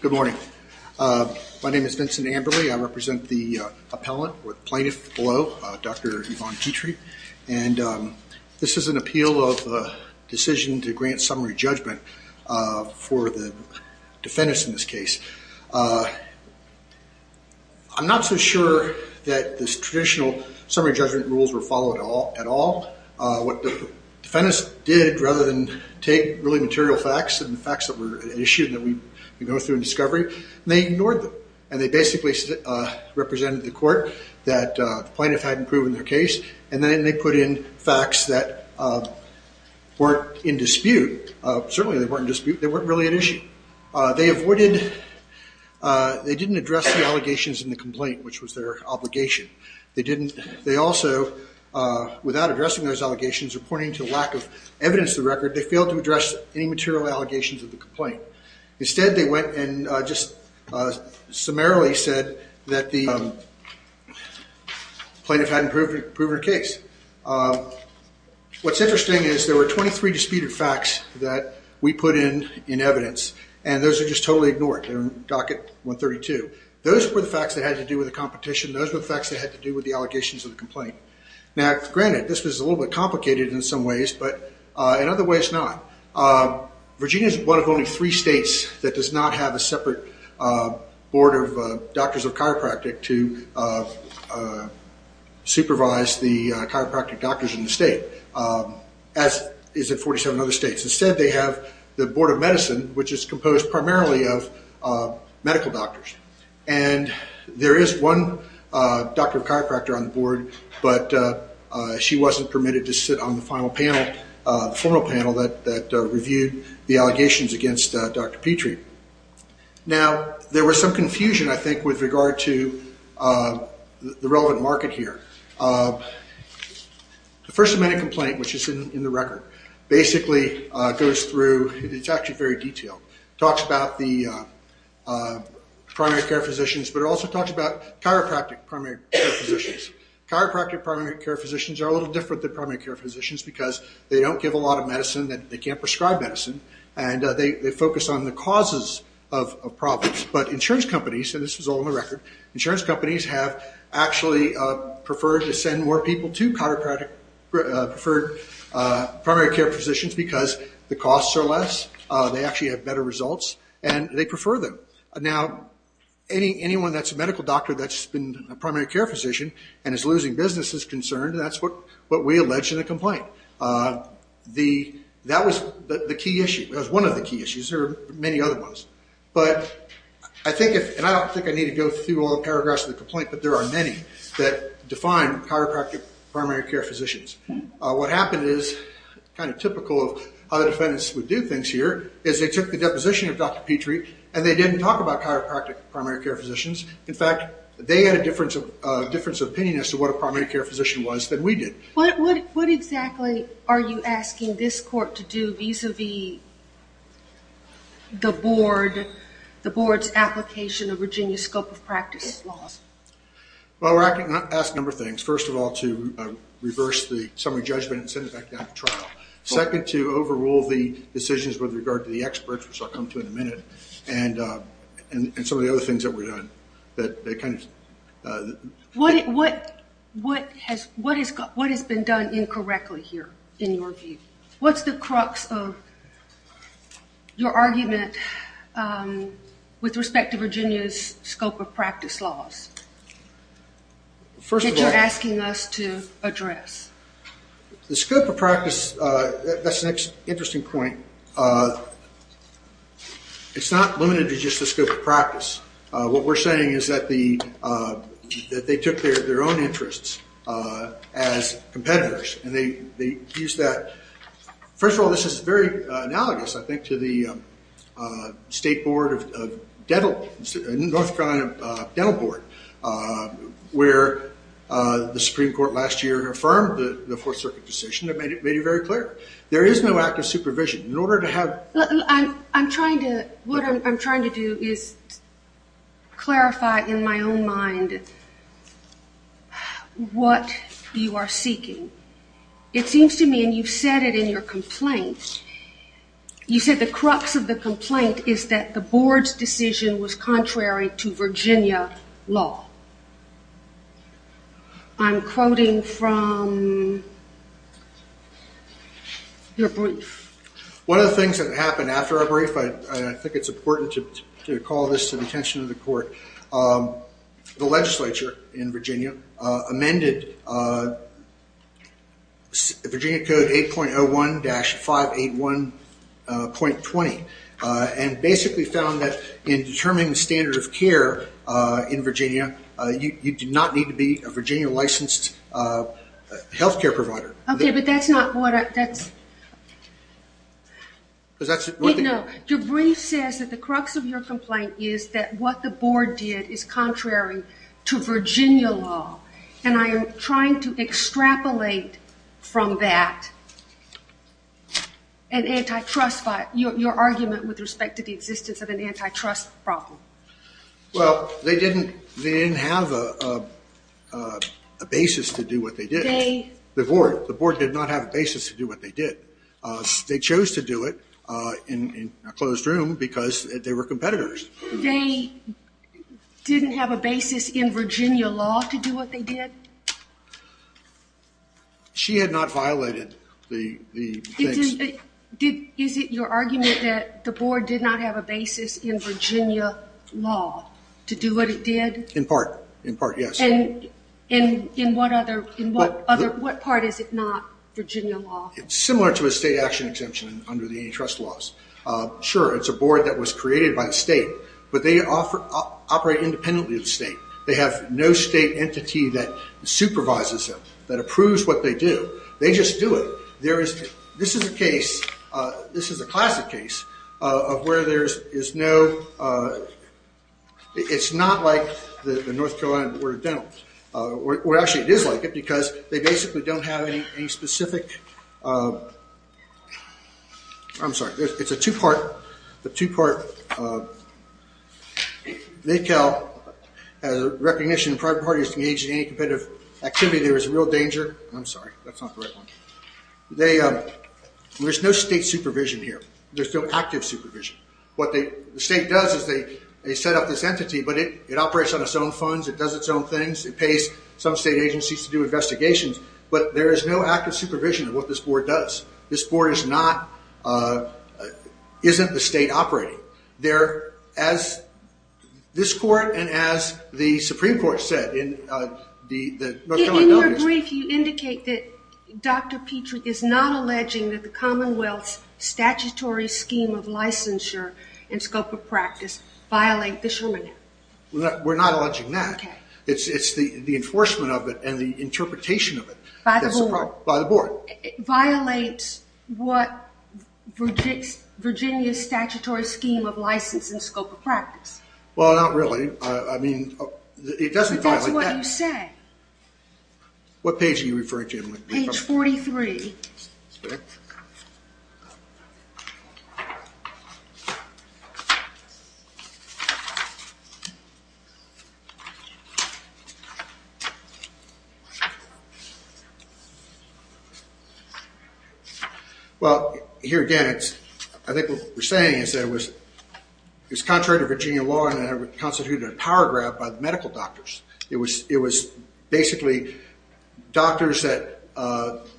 Good morning. My name is Vincent Amberly. I represent the Virginia Board of Medicine. I'm here to talk about the decision to grant summary judgment for the defendants in this case. I'm not so sure that the traditional summary judgment rules were followed at all. What the defendants did rather than take really material facts and the facts that were issued that we go through in discovery, they ignored them. And they basically represented the court that the plaintiff hadn't proven their case and then they put in facts that weren't in dispute. Certainly they weren't in dispute. They weren't really at issue. They avoided, they didn't address the allegations in the complaint, which was their obligation. They didn't, they also, without addressing those allegations or pointing to a lack of evidence of the record, they failed to address any material allegations of the complaint. Instead, they went and just summarily said that the plaintiff hadn't proven their case. What's interesting is there were 23 disputed facts that we put in in evidence and those are just totally ignored. They're in docket 132. Those were the facts that had to do with the competition. Those were the facts that had to do with the allegations of the complaint. Now granted, this was a little bit complicated in some ways, but in other ways not. Virginia is one of only three states that does not have a separate board of doctors of chiropractic to supervise the chiropractic doctors in the state, as is in 47 other states. Instead, they have the Board of Medicine, which is composed primarily of medical doctors. And there is one doctor of chiropractor on the board, but she wasn't permitted to sit on the final panel, the formal panel that reviewed the allegations against Dr. Petrie. Now, there was some confusion, I think, with regard to the relevant market here. The First Amendment complaint, which is in the record, basically goes through, it's actually very detailed. It talks about the primary care physicians, but it also talks about chiropractic primary care physicians. Chiropractic primary care physicians are a little different than primary care physicians because they don't give a lot of medicine, they can't prescribe medicine, and they focus on the causes of problems. But insurance companies, and this is all in the record, insurance companies have actually preferred to send more people to chiropractic, preferred primary care physicians because the costs are less, they actually have better results, and they prefer them. Now, anyone that's a medical doctor that's been a primary care physician and is losing business is concerned, and that's what we allege in the complaint. That was the key issue, that was one of the key issues, there were many other ones. But I think, and I don't think I need to go through all the paragraphs of the complaint, but there are many that define chiropractic primary care physicians. What happened is, kind of typical of how defendants would do things here, is they took the deposition of Dr. Petrie, and they didn't talk about chiropractic primary care physicians. In fact, they had a difference of opinion as to what a primary care physician was than we did. What exactly are you asking this court to do vis-a-vis the board's application of Virginia's scope of practice laws? Well, we're asking a number of things. First of all, to reverse the summary judgment and send it back down to trial. Second, to overrule the decisions with regard to the experts, which I'll come to in a minute, and some of the other things that were done. What has been done incorrectly here, in your view? What's the crux of your argument with respect to Virginia's scope of practice laws that you're asking us to address? The scope of practice, that's an interesting point. It's not limited to just the scope of practice. What we're saying is that they took their own interests as competitors, and they used that. First of all, this is very analogous, I think, to the state board of dental, North Carolina Dental Board, where the Supreme Court last year affirmed the Fourth Circuit decision that made it very clear. There is no active supervision. What I'm trying to do is clarify in my own mind what you are seeking. It seems to me, and you've said it in your complaint, you said the crux of the complaint is that the board's decision was contrary to Virginia law. I'm quoting from your brief. One of the things that happened after our brief, and I think it's important to call this to the attention of the court, the legislature in Virginia amended Virginia Code 8.01-581.20, and basically found that in determining the standard of care in Virginia, you do not need to be a Virginia-licensed health care provider. Okay, but that's not what I... No, your brief says that the crux of your complaint is that what the board did is contrary to Virginia law. And I am trying to extrapolate from that your argument with respect to the existence of an antitrust problem. Well, they didn't have a basis to do what they did. The board did not have a basis to do what they did. They chose to do it in a closed room because they were competitors. They didn't have a basis in Virginia law to do what they did? She had not violated the things. Is it your argument that the board did not have a basis in Virginia law to do what it did? In part, in part, yes. And in what part is it not Virginia law? It's similar to a state action exemption under the antitrust laws. Sure, it's a board that was created by the state, but they operate independently of the state. They have no state entity that supervises them, that approves what they do. They just do it. This is a classic case of where there is no... It's not like the North Carolina Board of Dentists. Actually, it is like it because they basically don't have any specific... I'm sorry, it's a two-part... NACAL has a recognition that private parties engaging in any competitive activity there is a real danger. I'm sorry, that's not the right one. There's no state supervision here. There's no active supervision. What the state does is they set up this entity, but it operates on its own funds. It does its own things. It pays some state agencies to do investigations, but there is no active supervision of what this board does. This board is not... isn't the state operating. There, as this court and as the Supreme Court said in the... In your brief, you indicate that Dr. Petrie is not alleging that the Commonwealth's statutory scheme of licensure and scope of practice violate the Sherman Act. We're not alleging that. Okay. It's the enforcement of it and the interpretation of it. By the board. By the board. It violates what Virginia's statutory scheme of license and scope of practice. Well, not really. I mean, it doesn't violate that. That's what you said. What page are you referring to? Page 43. Okay. Well, here again, I think what we're saying is that it was contrary to Virginia law and it constituted a power grab by the medical doctors. It was basically doctors that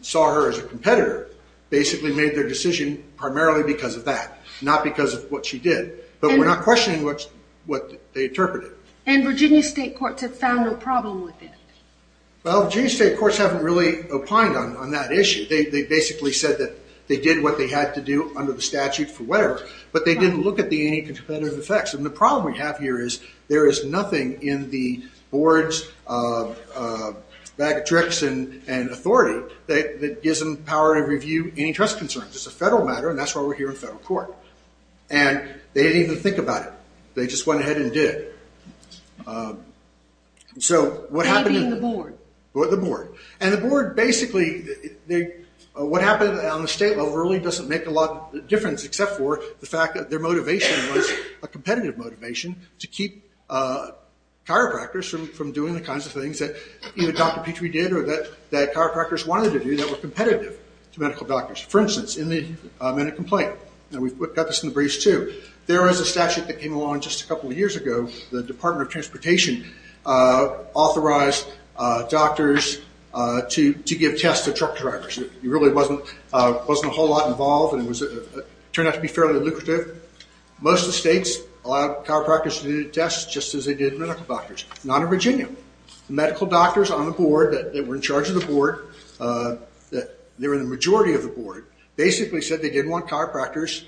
saw her as a competitor basically made their decision primarily because of that, not because of what she did, but we're not questioning what they interpreted. And Virginia state courts have found no problem with it. Well, Virginia state courts haven't really opined on that issue. They basically said that they did what they had to do under the statute for whatever, but they didn't look at the anti-competitive effects. And the problem we have here is there is nothing in the board's bag of tricks and authority that gives them power to review any trust concerns. It's a federal matter, and that's why we're here in federal court. And they didn't even think about it. They just went ahead and did it. That being the board. The board. And the board basically, what happened on the state level really doesn't make a lot of difference, except for the fact that their motivation was a competitive motivation to keep chiropractors from doing the kinds of things that either Dr. Petrie did or that chiropractors wanted to do that were competitive to medical doctors. For instance, in a complaint. And we've got this in the briefs too. There is a statute that came along just a couple of years ago. The Department of Transportation authorized doctors to give tests to truck drivers. There really wasn't a whole lot involved, and it turned out to be fairly lucrative. Most of the states allowed chiropractors to do tests just as they did medical doctors. Not in Virginia. The medical doctors on the board that were in charge of the board, they were the majority of the board, basically said they didn't want chiropractors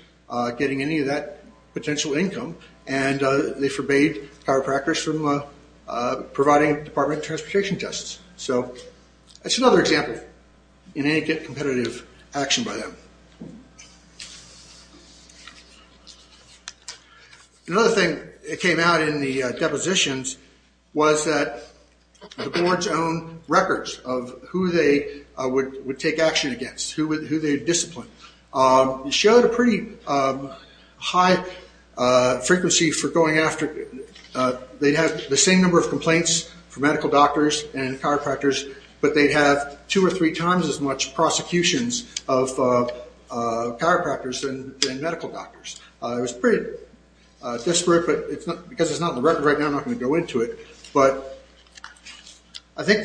getting any of that potential income, and they forbade chiropractors from providing Department of Transportation tests. That's another example in any competitive action by them. Another thing that came out in the depositions was that the board's own records of who they would take action against, who they would discipline, showed a pretty high frequency for going after... They'd have the same number of complaints for medical doctors and chiropractors, but they'd have two or three times as much prosecutions of chiropractors than medical doctors. It was pretty disparate, but because it's not in the record right now, I'm not going to go into it. I think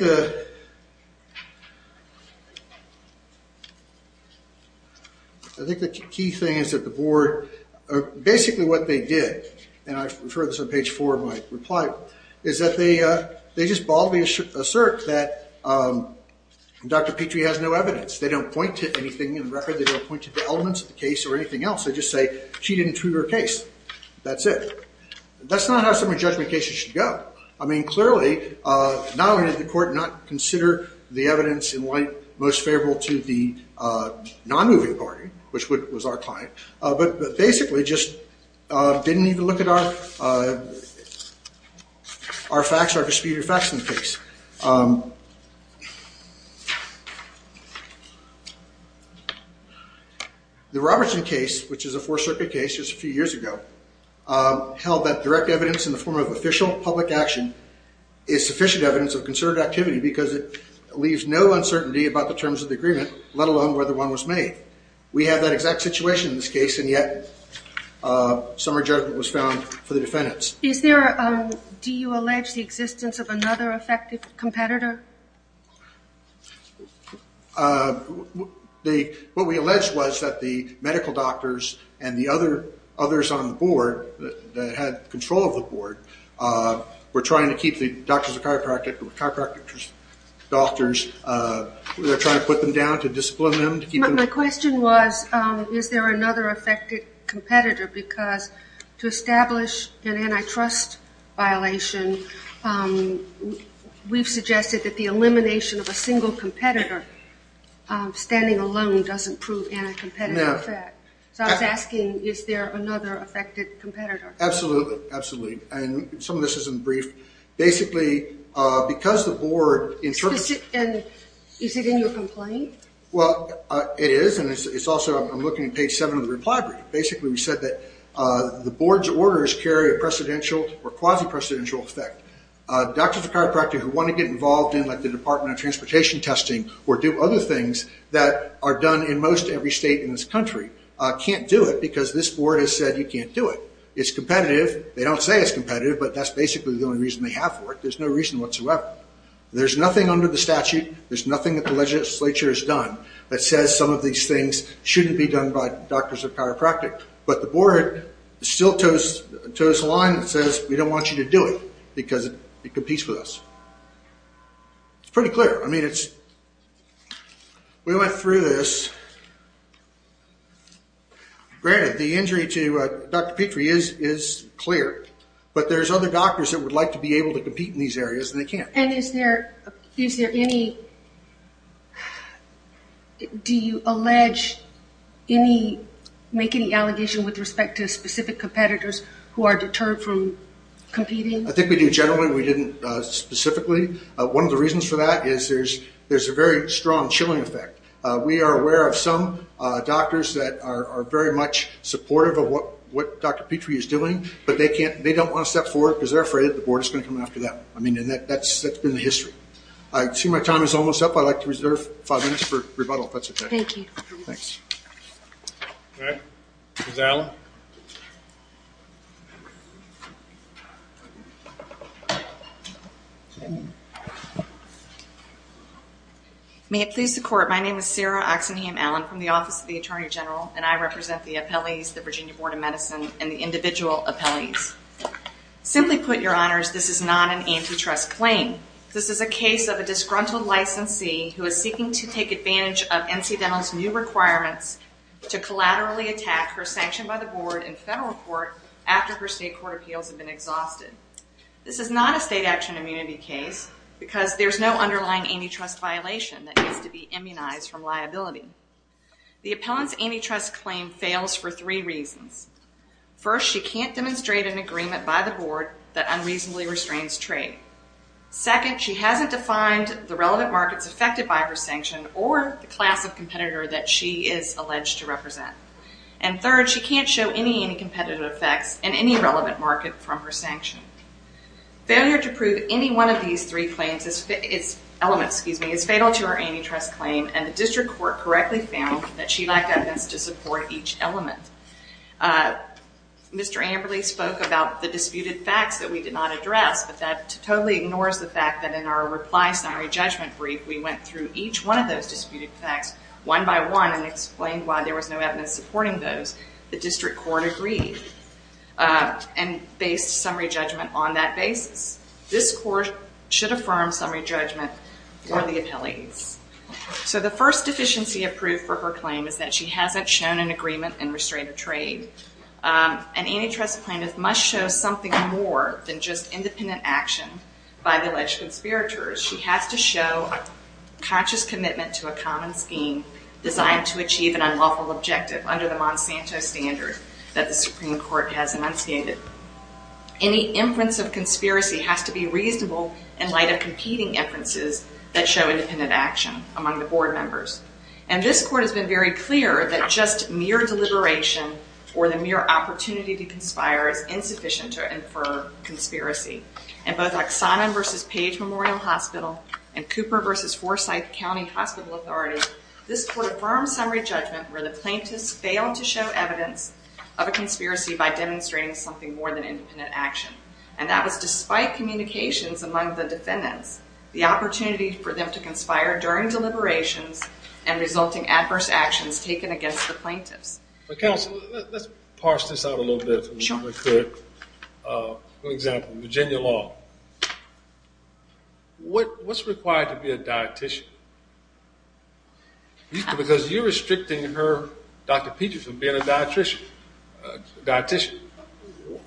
the key thing is that the board... is that they just baldly assert that Dr. Petrie has no evidence. They don't point to anything in the record. They don't point to the elements of the case or anything else. They just say she didn't treat her case. That's it. That's not how some of the judgment cases should go. Clearly, not only did the court not consider the evidence in light most favorable to the non-moving party, which was our client, but basically just didn't even look at our facts, our disputed facts in the case. The Robertson case, which is a Fourth Circuit case just a few years ago, held that direct evidence in the form of official public action is sufficient evidence of concerted activity because it leaves no uncertainty about the terms of the agreement, let alone whether one was made. We have that exact situation in this case, and yet some of our judgment was found for the defendants. Do you allege the existence of another affected competitor? What we allege was that the medical doctors and the others on the board that had control of the board were trying to keep the doctors or chiropractic doctors... My question was, is there another affected competitor? Because to establish an antitrust violation, we've suggested that the elimination of a single competitor, standing alone, doesn't prove anti-competitive. So I was asking, is there another affected competitor? Absolutely. Some of this is in the brief. Basically, because the board... Is it in your complaint? Well, it is, and it's also... I'm looking at page 7 of the reply brief. Basically, we said that the board's orders carry a precedential or quasi-precedential effect. Doctors and chiropractors who want to get involved in the Department of Transportation testing or do other things that are done in most every state in this country can't do it because this board has said you can't do it. It's competitive. They don't say it's competitive, but that's basically the only reason they have for it. There's no reason whatsoever. There's nothing under the statute. There's nothing that the legislature has done that says some of these things shouldn't be done by doctors or chiropractors. But the board still tows the line and says, we don't want you to do it because it competes with us. It's pretty clear. I mean, it's... We went through this. Granted, the injury to Dr. Petrie is clear, but there's other doctors that would like to be able to compete in these areas, and they can't. And is there any... Do you allege any... make any allegation with respect to specific competitors who are deterred from competing? I think we do generally. We didn't specifically. One of the reasons for that is there's a very strong chilling effect. We are aware of some doctors that are very much supportive of what Dr. Petrie is doing, but they don't want to step forward because they're afraid the board is going to come after them. I mean, and that's been the history. I see my time is almost up. I'd like to reserve five minutes for rebuttal, if that's okay. Thank you. Thanks. All right. Ms. Allen. May it please the Court, my name is Sarah Oxenham Allen from the Office of the Attorney General, and I represent the appellees, the Virginia Board of Medicine, and the individual appellees. Simply put, Your Honors, this is not an antitrust claim. This is a case of a disgruntled licensee who is seeking to take advantage of NC Dental's new requirements to collaterally attack her sanctioned by the board in federal court after her state court appeals have been exhausted. This is not a state action immunity case because there's no underlying antitrust violation that needs to be immunized from liability. The appellant's antitrust claim fails for three reasons. First, she can't demonstrate an agreement by the board that unreasonably restrains trade. Second, she hasn't defined the relevant markets affected by her sanction or the class of competitor that she is alleged to represent. And third, she can't show any anti-competitive effects in any relevant market from her sanction. Failure to prove any one of these three elements is fatal to her antitrust claim, and the district court correctly found that she lacked evidence to support each element. Mr. Amberley spoke about the disputed facts that we did not address, but that totally ignores the fact that in our reply summary judgment brief, we went through each one of those disputed facts one by one and explained why there was no evidence supporting those. The district court agreed and based summary judgment on that basis. This court should affirm summary judgment for the appellants. So the first deficiency of proof for her claim is that she hasn't shown an agreement and restrained trade. An antitrust plaintiff must show something more than just independent action by the alleged conspirators. She has to show conscious commitment to a common scheme designed to achieve an unlawful objective under the Monsanto standard that the Supreme Court has enunciated. Any inference of conspiracy has to be reasonable in light of competing inferences that show independent action among the board members. And this court has been very clear that just mere deliberation or the mere opportunity to conspire is insufficient to infer conspiracy. In both Oxana v. Page Memorial Hospital and Cooper v. Forsyth County Hospital Authority, this court affirmed summary judgment where the plaintiffs failed to show evidence of a conspiracy by demonstrating something more than independent action. And that was despite communications among the defendants, the opportunity for them to conspire during deliberations and resulting adverse actions taken against the plaintiffs. Counsel, let's parse this out a little bit. Sure. For example, Virginia Law. What's required to be a dietician? Because you're restricting her, Dr. Peterson, being a dietician.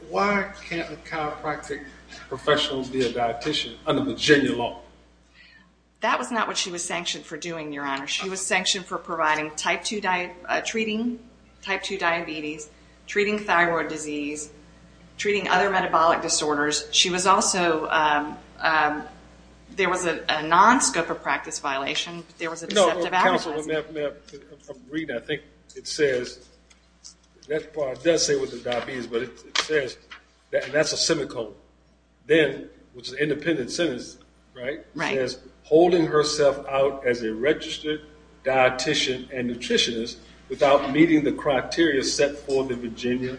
Why can't a chiropractic professional be a dietician under Virginia Law? That was not what she was sanctioned for doing, Your Honor. She was sanctioned for treating type 2 diabetes, treating thyroid disease, treating other metabolic disorders. She was also ‑‑ there was a nonscope of practice violation, but there was a deceptive advertising. I'm reading it. I think it says ‑‑ it does say what the diabetes is, but it says, and that's a semicolon, then, which is an independent sentence, right? Right. It says, holding herself out as a registered dietician and nutritionist without meeting the criteria set for the Virginia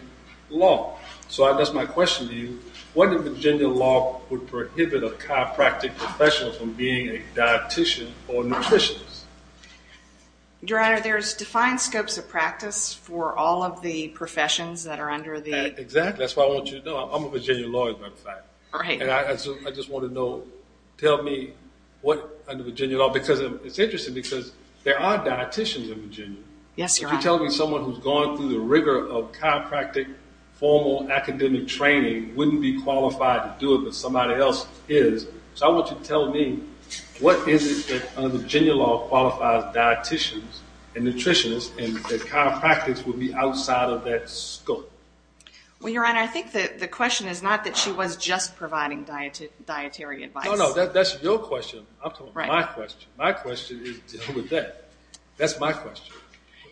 law. So that's my question to you. What in Virginia law would prohibit a chiropractic professional from being a dietician or nutritionist? Your Honor, there's defined scopes of practice for all of the professions that are under the ‑‑ Exactly. That's what I want you to know. I'm a Virginia lawyer, as a matter of fact. Right. And I just want to know, tell me what under Virginia law, because it's interesting because there are dieticians in Virginia. Yes, Your Honor. If you're telling me someone who's gone through the rigor of chiropractic, formal academic training, wouldn't be qualified to do it, but somebody else is, so I want you to tell me, what is it that under Virginia law qualifies dieticians and nutritionists and that chiropractics would be outside of that scope? Well, Your Honor, I think the question is not that she was just providing dietary advice. No, no, that's your question. I'm talking about my question. My question is to deal with that. That's my question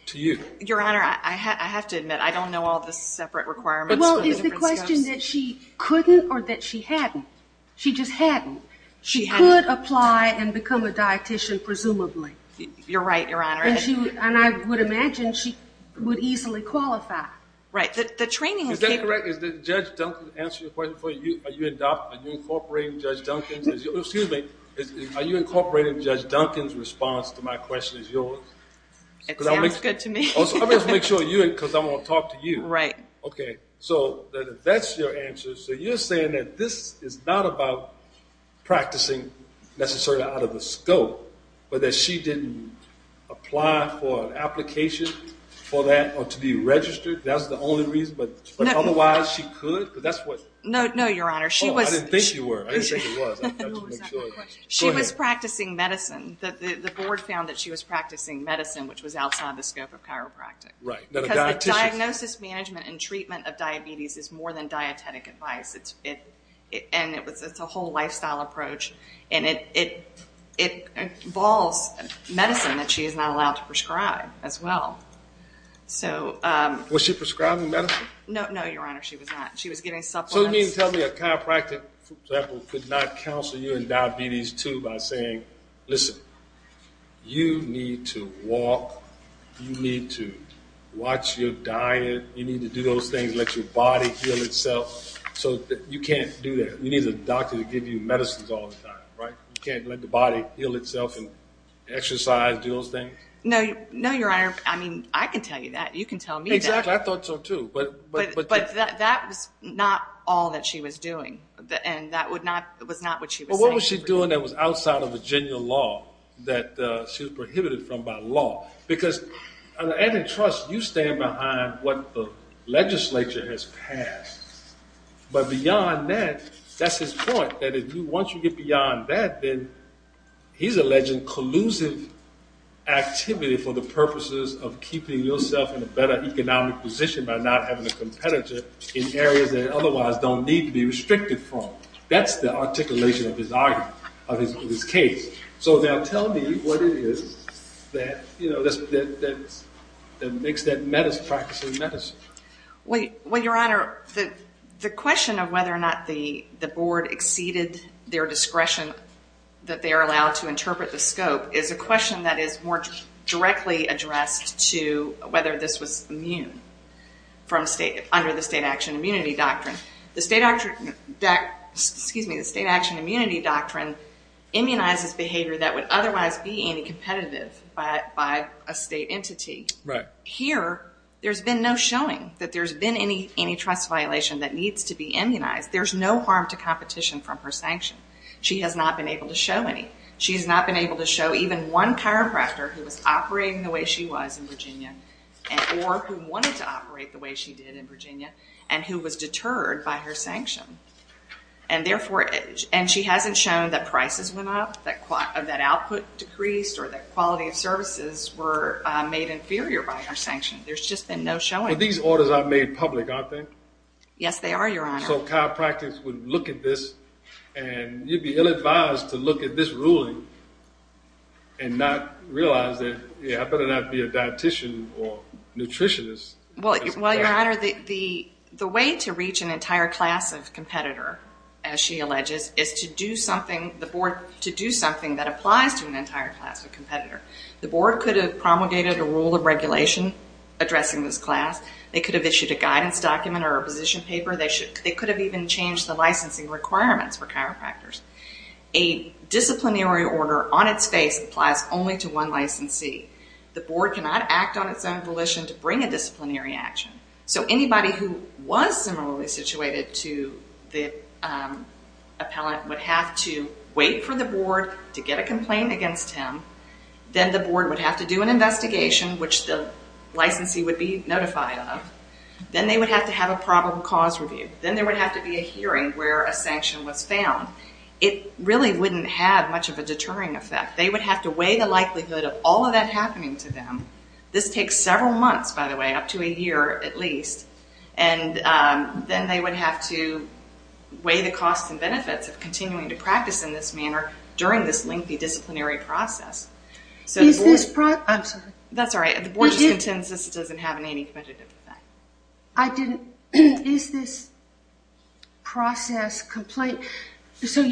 to you. Your Honor, I have to admit, I don't know all the separate requirements for the different scopes. Well, is the question that she couldn't or that she hadn't? She just hadn't. She could apply and become a dietician, presumably. You're right, Your Honor. And I would imagine she would easily qualify. Right. Is that correct? Did Judge Duncan answer your question before? Are you incorporating Judge Duncan? Excuse me. Are you incorporating Judge Duncan's response to my question as yours? It sounds good to me. I'm going to have to make sure because I want to talk to you. Right. Okay, so that's your answer. So you're saying that this is not about practicing necessarily out of the scope, but that she didn't apply for an application for that or to be registered. That's the only reason, but otherwise she could? No, Your Honor. Oh, I didn't think she was. She was practicing medicine. The board found that she was practicing medicine, which was outside the scope of chiropractic. Right. Because diagnosis management and treatment of diabetes is more than dietetic advice. And it's a whole lifestyle approach. And it involves medicine that she is not allowed to prescribe as well. Was she prescribing medicine? No, Your Honor. She was not. She was giving supplements. So you mean to tell me a chiropractic, for example, could not counsel you in diabetes, too, by saying, listen, you need to walk, you need to watch your diet, you need to do those things, let your body heal itself. So you can't do that. You need a doctor to give you medicines all the time, right? You can't let the body heal itself and exercise, do those things? No, Your Honor. I mean, I can tell you that. You can tell me that. Exactly. I thought so, too. But that was not all that she was doing. And that was not what she was saying. Well, what was she doing that was outside of Virginia law, that she was prohibited from by law? Because at antitrust, you stand behind what the legislature has passed. But beyond that, that's his point, that once you get beyond that, then he's alleging collusive activity for the purposes of keeping yourself in a better economic position by not having a competitor in areas that otherwise don't need to be restricted from. That's the articulation of his argument, of his case. So now tell me what it is that makes that practice of medicine. Well, Your Honor, the question of whether or not the board exceeded their discretion that they are allowed to interpret the scope is a question that is more directly addressed to whether this was immune under the State Action Immunity Doctrine. The State Action Immunity Doctrine immunizes behavior that would otherwise be anti-competitive by a state entity. Right. Here, there's been no showing that there's been any antitrust violation that needs to be immunized. There's no harm to competition from her sanction. She has not been able to show any. She has not been able to show even one chiropractor who was operating the way she was in Virginia or who wanted to operate the way she did in Virginia and who was deterred by her sanction. And she hasn't shown that prices went up, that output decreased, or that quality of services were made inferior by her sanction. There's just been no showing. But these orders are made public, aren't they? Yes, they are, Your Honor. So chiropractors would look at this, and you'd be ill-advised to look at this ruling and not realize that, yeah, I better not be a dietician or nutritionist. Well, Your Honor, the way to reach an entire class of competitor, as she alleges, is to do something that applies to an entire class of competitor. The board could have promulgated a rule of regulation addressing this class. They could have issued a guidance document or a position paper. They could have even changed the licensing requirements for chiropractors. A disciplinary order on its face applies only to one licensee. The board cannot act on its own volition to bring a disciplinary action. So anybody who was similarly situated to the appellant would have to wait for the board to get a complaint against him. Then the board would have to do an investigation, which the licensee would be notified of. Then they would have to have a probable cause review. Then there would have to be a hearing where a sanction was found. It really wouldn't have much of a deterring effect. They would have to weigh the likelihood of all of that happening to them. This takes several months, by the way, up to a year at least. And then they would have to weigh the costs and benefits of continuing to practice in this manner during this lengthy disciplinary process. I'm sorry. That's all right. The board just intends this doesn't have any commentative effect. I didn't. Is this process complaint? So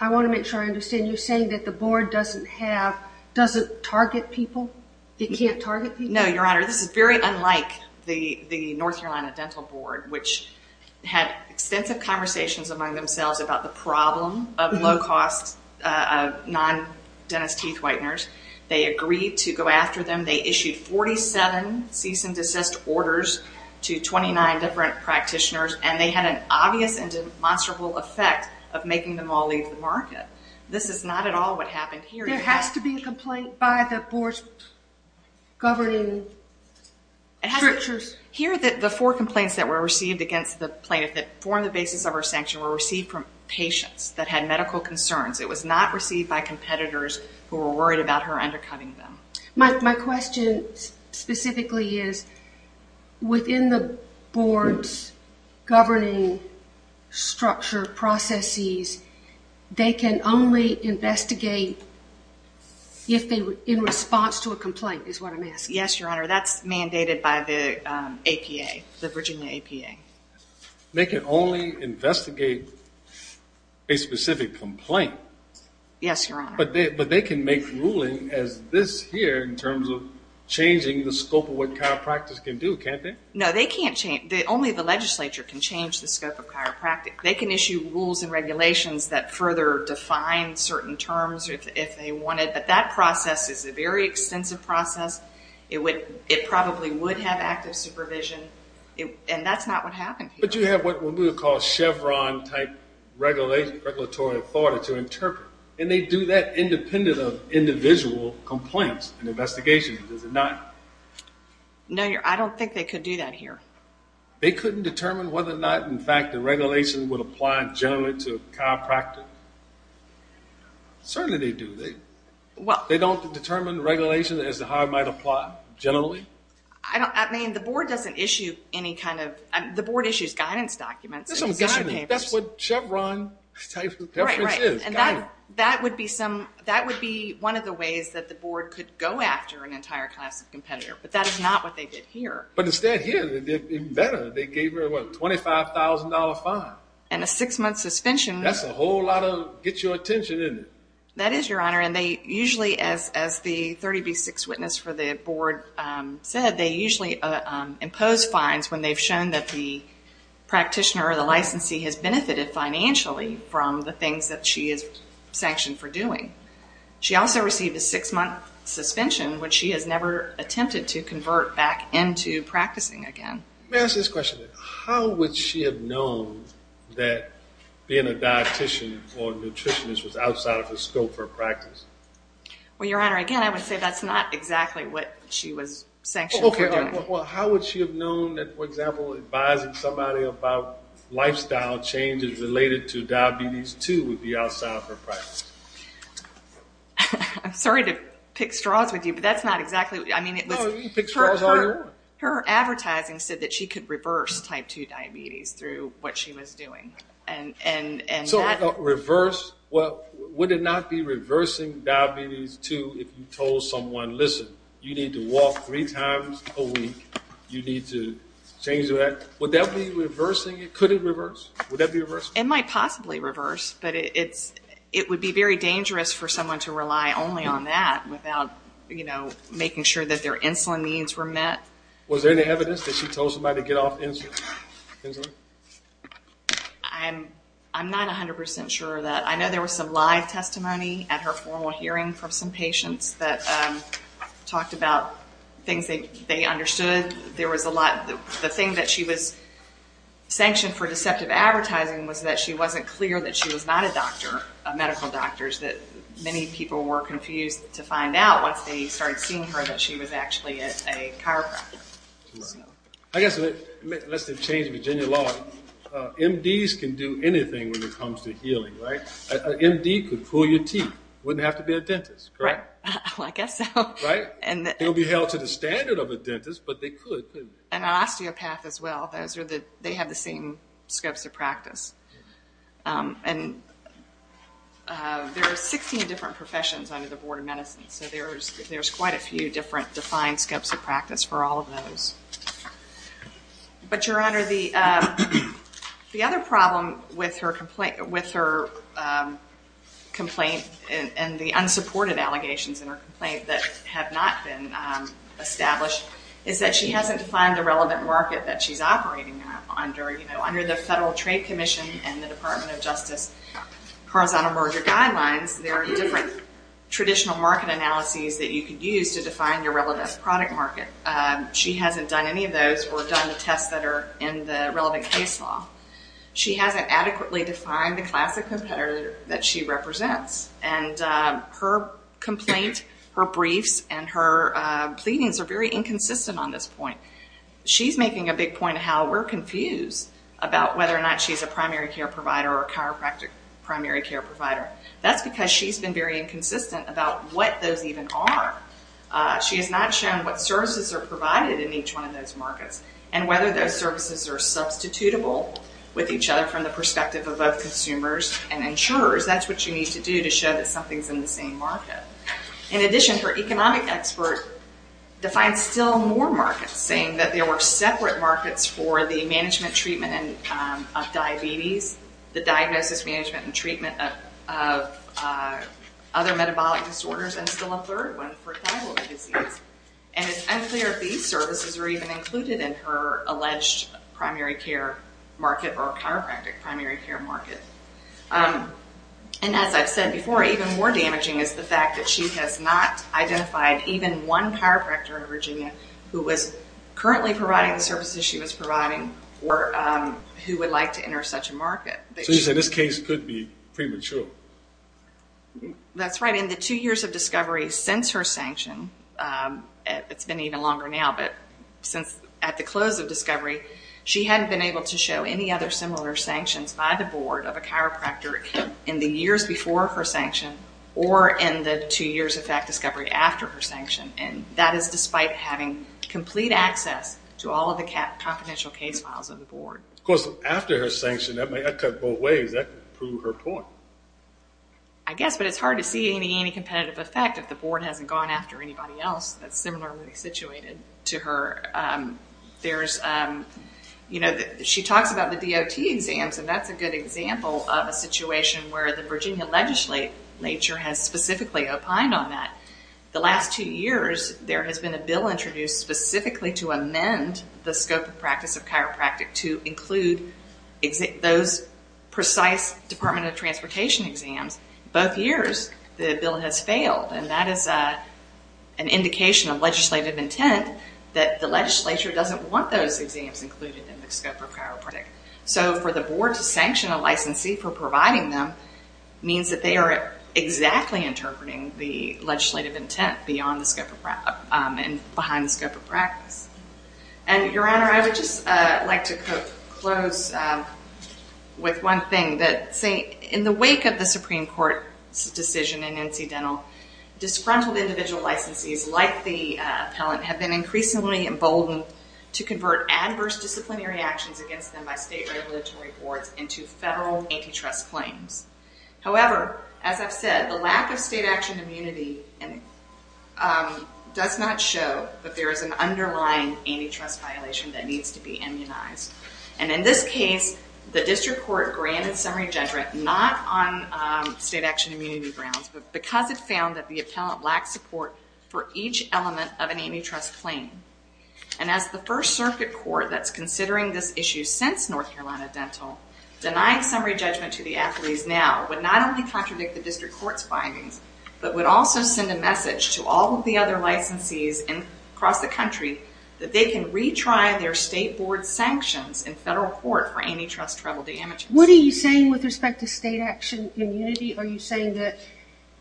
I want to make sure I understand. You're saying that the board doesn't target people? It can't target people? No, Your Honor. This is very unlike the North Carolina Dental Board, which had extensive conversations among themselves about the problem of low-cost non-dentist teeth whiteners. They agreed to go after them. They issued 47 cease-and-desist orders to 29 different practitioners, and they had an obvious and demonstrable effect of making them all leave the market. This is not at all what happened here. There has to be a complaint by the board's governing structures. Here, the four complaints that were received against the plaintiff that form the basis of her sanction were received from patients that had medical concerns. It was not received by competitors who were worried about her undercutting them. My question specifically is within the board's governing structure processes, they can only investigate if they were in response to a complaint is what I'm asking. Yes, Your Honor. That's mandated by the APA, the Virginia APA. They can only investigate a specific complaint. Yes, Your Honor. But they can make ruling as this here in terms of changing the scope of what chiropractors can do, can't they? No, they can't change. Only the legislature can change the scope of chiropractic. They can issue rules and regulations that further define certain terms if they wanted, but that process is a very extensive process. It probably would have active supervision, and that's not what happened here. But you have what we would call Chevron-type regulatory authority to interpret, and they do that independent of individual complaints and investigations, does it not? No, Your Honor. I don't think they could do that here. They couldn't determine whether or not, in fact, the regulation would apply generally to chiropractic? Certainly they do. They don't determine regulation as to how it might apply generally? I mean, the board doesn't issue any kind of – the board issues guidance documents. That's what Chevron-type reference is. Right, right. And that would be some – that would be one of the ways that the board could go after an entire class of competitor, but that is not what they did here. But instead here, they did better. They gave her a $25,000 fine. And a six-month suspension. That's a whole lot of get-your-attention, isn't it? That is, Your Honor. And they usually, as the 30B6 witness for the board said, they usually impose fines when they've shown that the practitioner or the licensee has benefited financially from the things that she is sanctioned for doing. She also received a six-month suspension when she has never attempted to convert back into practicing again. May I ask this question? How would she have known that being a dietitian or a nutritionist was outside of the scope of her practice? Well, Your Honor, again, I would say that's not exactly what she was sanctioned for doing. Well, how would she have known that, for example, advising somebody about lifestyle changes related to diabetes, too, would be outside of her practice? I'm sorry to pick straws with you, but that's not exactly – I mean, it was – No, you can pick straws all you want. Her advertising said that she could reverse type 2 diabetes through what she was doing, and that – So reverse – well, would it not be reversing diabetes, too, if you told someone, listen, you need to walk three times a week, you need to change that? Would that be reversing it? Could it reverse? Would that be reversing? It might possibly reverse, but it would be very dangerous for someone to rely only on that without, you know, making sure that their insulin needs were met. Was there any evidence that she told somebody to get off insulin? I'm not 100 percent sure of that. I know there was some live testimony at her formal hearing from some patients that talked about things they understood. There was a lot – the thing that she was sanctioned for deceptive advertising was that she wasn't clear that she was not a doctor, a medical doctor, that many people were confused to find out, once they started seeing her, that she was actually a chiropractor. I guess, unless they've changed the Virginia law, MDs can do anything when it comes to healing, right? An MD could pull your teeth, wouldn't have to be a dentist, correct? I guess so. They would be held to the standard of a dentist, but they could, couldn't they? An osteopath as well, those are the – they have the same scopes of practice. And there are 16 different professions under the Board of Medicine, so there's quite a few different defined scopes of practice for all of those. But, Your Honor, the other problem with her complaint and the unsupported allegations in her complaint that have not been established is that she hasn't defined the relevant market that she's operating under. You know, under the Federal Trade Commission and the Department of Justice Horizontal Merger Guidelines, there are different traditional market analyses that you could use to define your relevant product market. She hasn't done any of those or done the tests that are in the relevant case law. She hasn't adequately defined the class of competitor that she represents. And her complaint, her briefs, and her pleadings are very inconsistent on this point. She's making a big point of how we're confused about whether or not she's a primary care provider or a chiropractic primary care provider. That's because she's been very inconsistent about what those even are. She has not shown what services are provided in each one of those markets and whether those services are substitutable with each other from the perspective of both consumers and insurers. That's what you need to do to show that something's in the same market. In addition, her economic expert defines still more markets, saying that there were separate markets for the management treatment of diabetes, the diagnosis, management, and treatment of other metabolic disorders, and still a third one for thyroid disease. And it's unclear if these services are even included in her alleged primary care market or chiropractic primary care market. And as I've said before, even more damaging is the fact that she has not identified even one chiropractor in Virginia who was currently providing the services she was providing or who would like to enter such a market. So you say this case could be premature? That's right. In the two years of discovery since her sanction, it's been even longer now, but since at the close of discovery, she hadn't been able to show any other similar sanctions by the board of a chiropractor in the years before her sanction or in the two years of fact discovery after her sanction. And that is despite having complete access to all of the confidential case files of the board. Of course, after her sanction, that may have come both ways. That could prove her point. I guess, but it's hard to see any competitive effect if the board hasn't gone after anybody else that's similarly situated to her. There's, you know, she talks about the DOT exams, and that's a good example of a situation where the Virginia legislature has specifically opined on that. The last two years, there has been a bill introduced specifically to amend the scope of practice of chiropractic to include those precise Department of Transportation exams. Both years, the bill has failed, and that is an indication of legislative intent that the legislature doesn't want those exams included in the scope of chiropractic. So for the board to sanction a licensee for providing them means that they are exactly interpreting the legislative intent beyond the scope of practice and behind the scope of practice. And, Your Honor, I would just like to close with one thing that, say, in the wake of the Supreme Court's decision in NC Dental, disgruntled individual licensees like the appellant have been increasingly emboldened to convert adverse disciplinary actions against them by state regulatory boards into federal antitrust claims. However, as I've said, the lack of state action immunity does not show that there is an underlying antitrust violation that needs to be immunized. And in this case, the district court granted summary judgment but not on state action immunity grounds because it found that the appellant lacked support for each element of an antitrust claim. And as the First Circuit Court that's considering this issue since NC Dental, denying summary judgment to the athletes now would not only contradict the district court's findings but would also send a message to all of the other licensees across the country that they can retry their state board sanctions in federal court for antitrust travel damages. What are you saying with respect to state action immunity? Are you saying that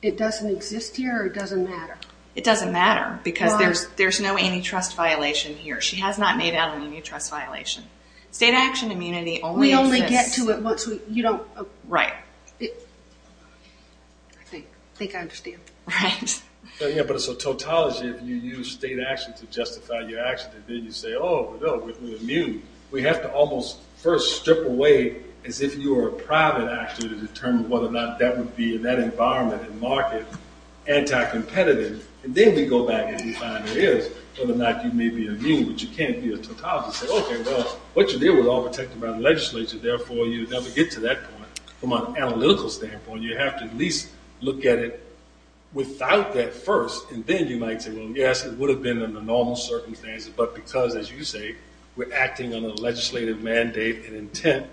it doesn't exist here or it doesn't matter? It doesn't matter because there's no antitrust violation here. She has not made out an antitrust violation. State action immunity only exists... We only get to it once we... Right. I think I understand. Right. Yeah, but it's a tautology if you use state action to justify your action and then you say, oh, no, we're immune. We have to almost first strip away as if you were a private actor to determine whether or not that would be, in that environment and market, anti-competitive. And then we go back and we find it is, whether or not you may be immune. But you can't be a tautology and say, okay, well, what you did was all protected by the legislature. Therefore, you never get to that point. From an analytical standpoint, you have to at least look at it without that first. And then you might say, well, yes, it would have been under normal circumstances. But because, as you say, we're acting on a legislative mandate and intent,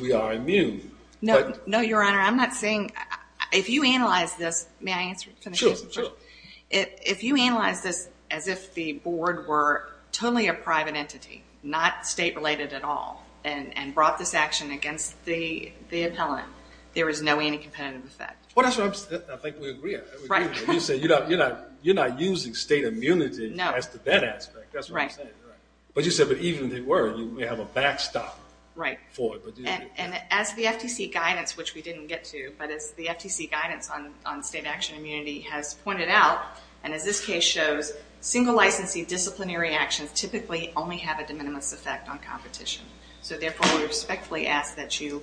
we are immune. No, Your Honor, I'm not saying... If you analyze this, may I answer? Sure, sure. If you analyze this as if the board were totally a private entity, not state-related at all, and brought this action against the appellant, there is no anti-competitive effect. Well, that's what I think we agree on. Right. You're not using state immunity as to that aspect. That's what I'm saying. But you said even if they were, you may have a backstop for it. And as the FTC guidance, which we didn't get to, but as the FTC guidance on state action immunity has pointed out, and as this case shows, single licensee disciplinary actions typically only have a de minimis effect on competition. So therefore, we respectfully ask that you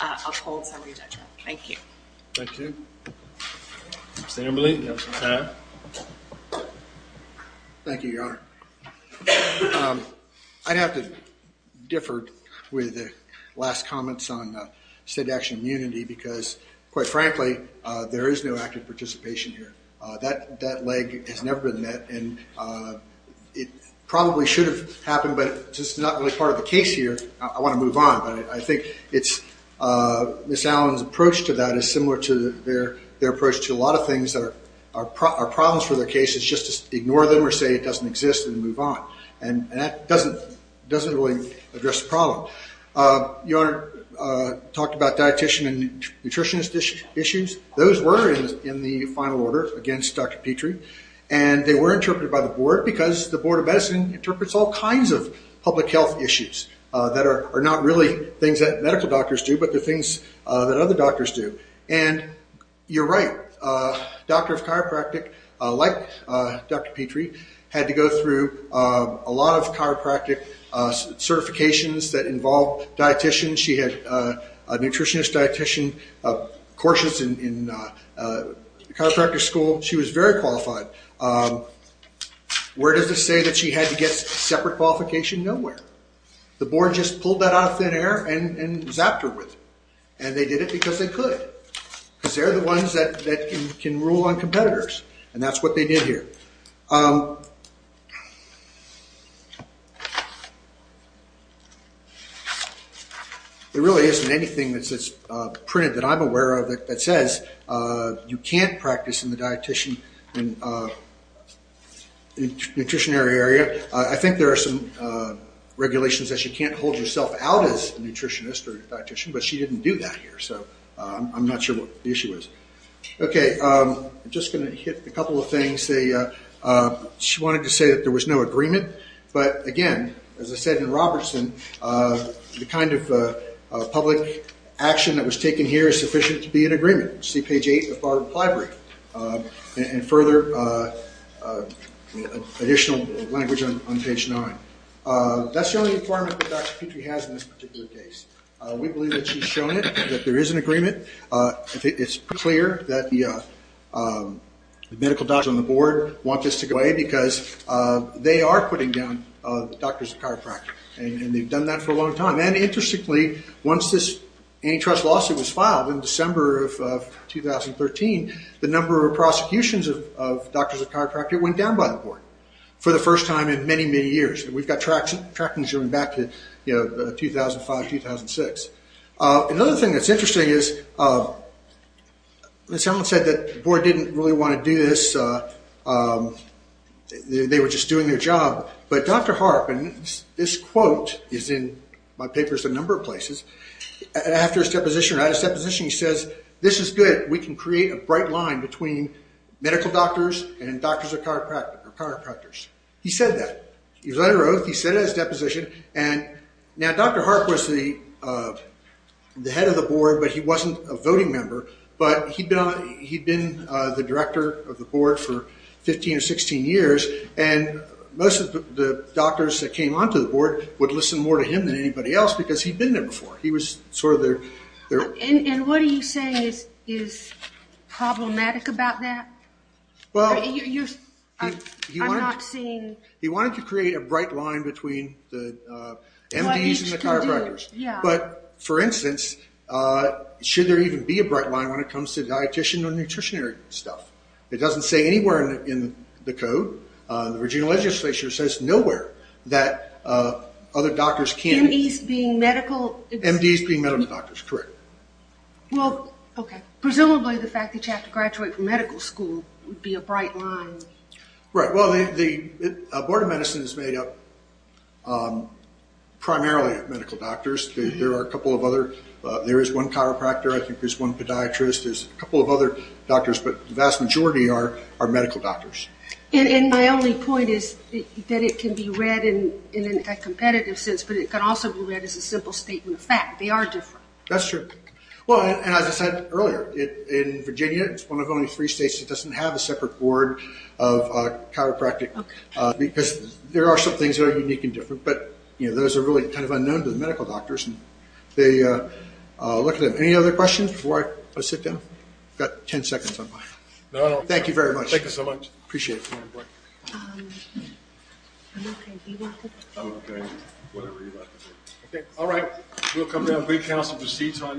uphold summary judgment. Thank you. Thank you. Senator Maloney, you have some time. Thank you, Your Honor. I'd have to differ with the last comments on state action immunity because, quite frankly, there is no active participation here. That leg has never been met, and it probably should have happened, but since it's not really part of the case here, I want to move on. I think Ms. Allen's approach to that is similar to their approach to a lot of things that are problems for their cases, just to ignore them or say it doesn't exist and move on. And that doesn't really address the problem. Your Honor talked about dietician and nutritionist issues. Those were in the final order against Dr. Petrie, and they were interpreted by the board because the Board of Medicine interprets all kinds of public health issues that are not really things that medical doctors do but the things that other doctors do. And you're right. A doctor of chiropractic, like Dr. Petrie, had to go through a lot of chiropractic certifications that involved dieticians. She had a nutritionist dietician courses in chiropractic school. She was very qualified. Where does this say that she had to get separate qualification? Nowhere. The board just pulled that out of thin air and zapped her with it, and they did it because they could, because they're the ones that can rule on competitors, and that's what they did here. There really isn't anything that's printed that I'm aware of that says you can't practice in the dietician and nutrition area. I think there are some regulations that you can't hold yourself out as a nutritionist or dietician, but she didn't do that here, so I'm not sure what the issue is. I'm just going to hit a couple of things. She wanted to say that there was no agreement, but again, as I said in Robertson, the kind of public action that was taken here is sufficient to be in agreement. See page 8 of Barbara Plybury, and further additional language on page 9. That's the only requirement that Dr. Petrie has in this particular case. We believe that she's shown that there is an agreement. It's clear that the medical doctors on the board want this to go away because they are putting down doctors of chiropractic, and they've done that for a long time. Interestingly, once this antitrust lawsuit was filed in December of 2013, the number of prosecutions of doctors of chiropractic went down by the board for the first time in many, many years. We've got trackings going back to 2005, 2006. Another thing that's interesting is someone said that the board didn't really want to do this. They were just doing their job. But Dr. Harp, and this quote is in my papers in a number of places, after his deposition, he says, this is good, we can create a bright line between medical doctors and doctors of chiropractic, or chiropractors. He said that. He was under oath, he said it at his deposition, and now Dr. Harp was the head of the board, but he wasn't a voting member, but he'd been the director of the board for 15 or 16 years, and most of the doctors that came onto the board would listen more to him than anybody else because he'd been there before. He was sort of their... And what are you saying is problematic about that? Well, he wanted to create a bright line between the MDs and the chiropractors. But, for instance, should there even be a bright line when it comes to dietician or nutritionary stuff? It doesn't say anywhere in the code. The Virginia legislature says nowhere that other doctors can't... M.D.s being medical... M.D.s being medical doctors, correct. Well, okay. Presumably the fact that you have to graduate from medical school would be a bright line. Right. Well, the Board of Medicine is made up primarily of medical doctors. There are a couple of other... There is one chiropractor, I think there's one podiatrist, there's a couple of other doctors, but the vast majority are medical doctors. And my only point is that it can be read in a competitive sense, but it can also be read as a simple statement of fact. They are different. That's true. Well, and as I said earlier, in Virginia, it's one of only three states that doesn't have a separate board of chiropractic because there are some things that are unique and different, but those are really kind of unknown to the medical doctors. Any other questions before I sit down? I've got 10 seconds on my... No, no. Thank you very much. Thank you so much. Appreciate it. I'm okay. Do you want to... I'm okay. Whatever you like. Okay. All right. We'll come down and bring counsel to the seats on the next case.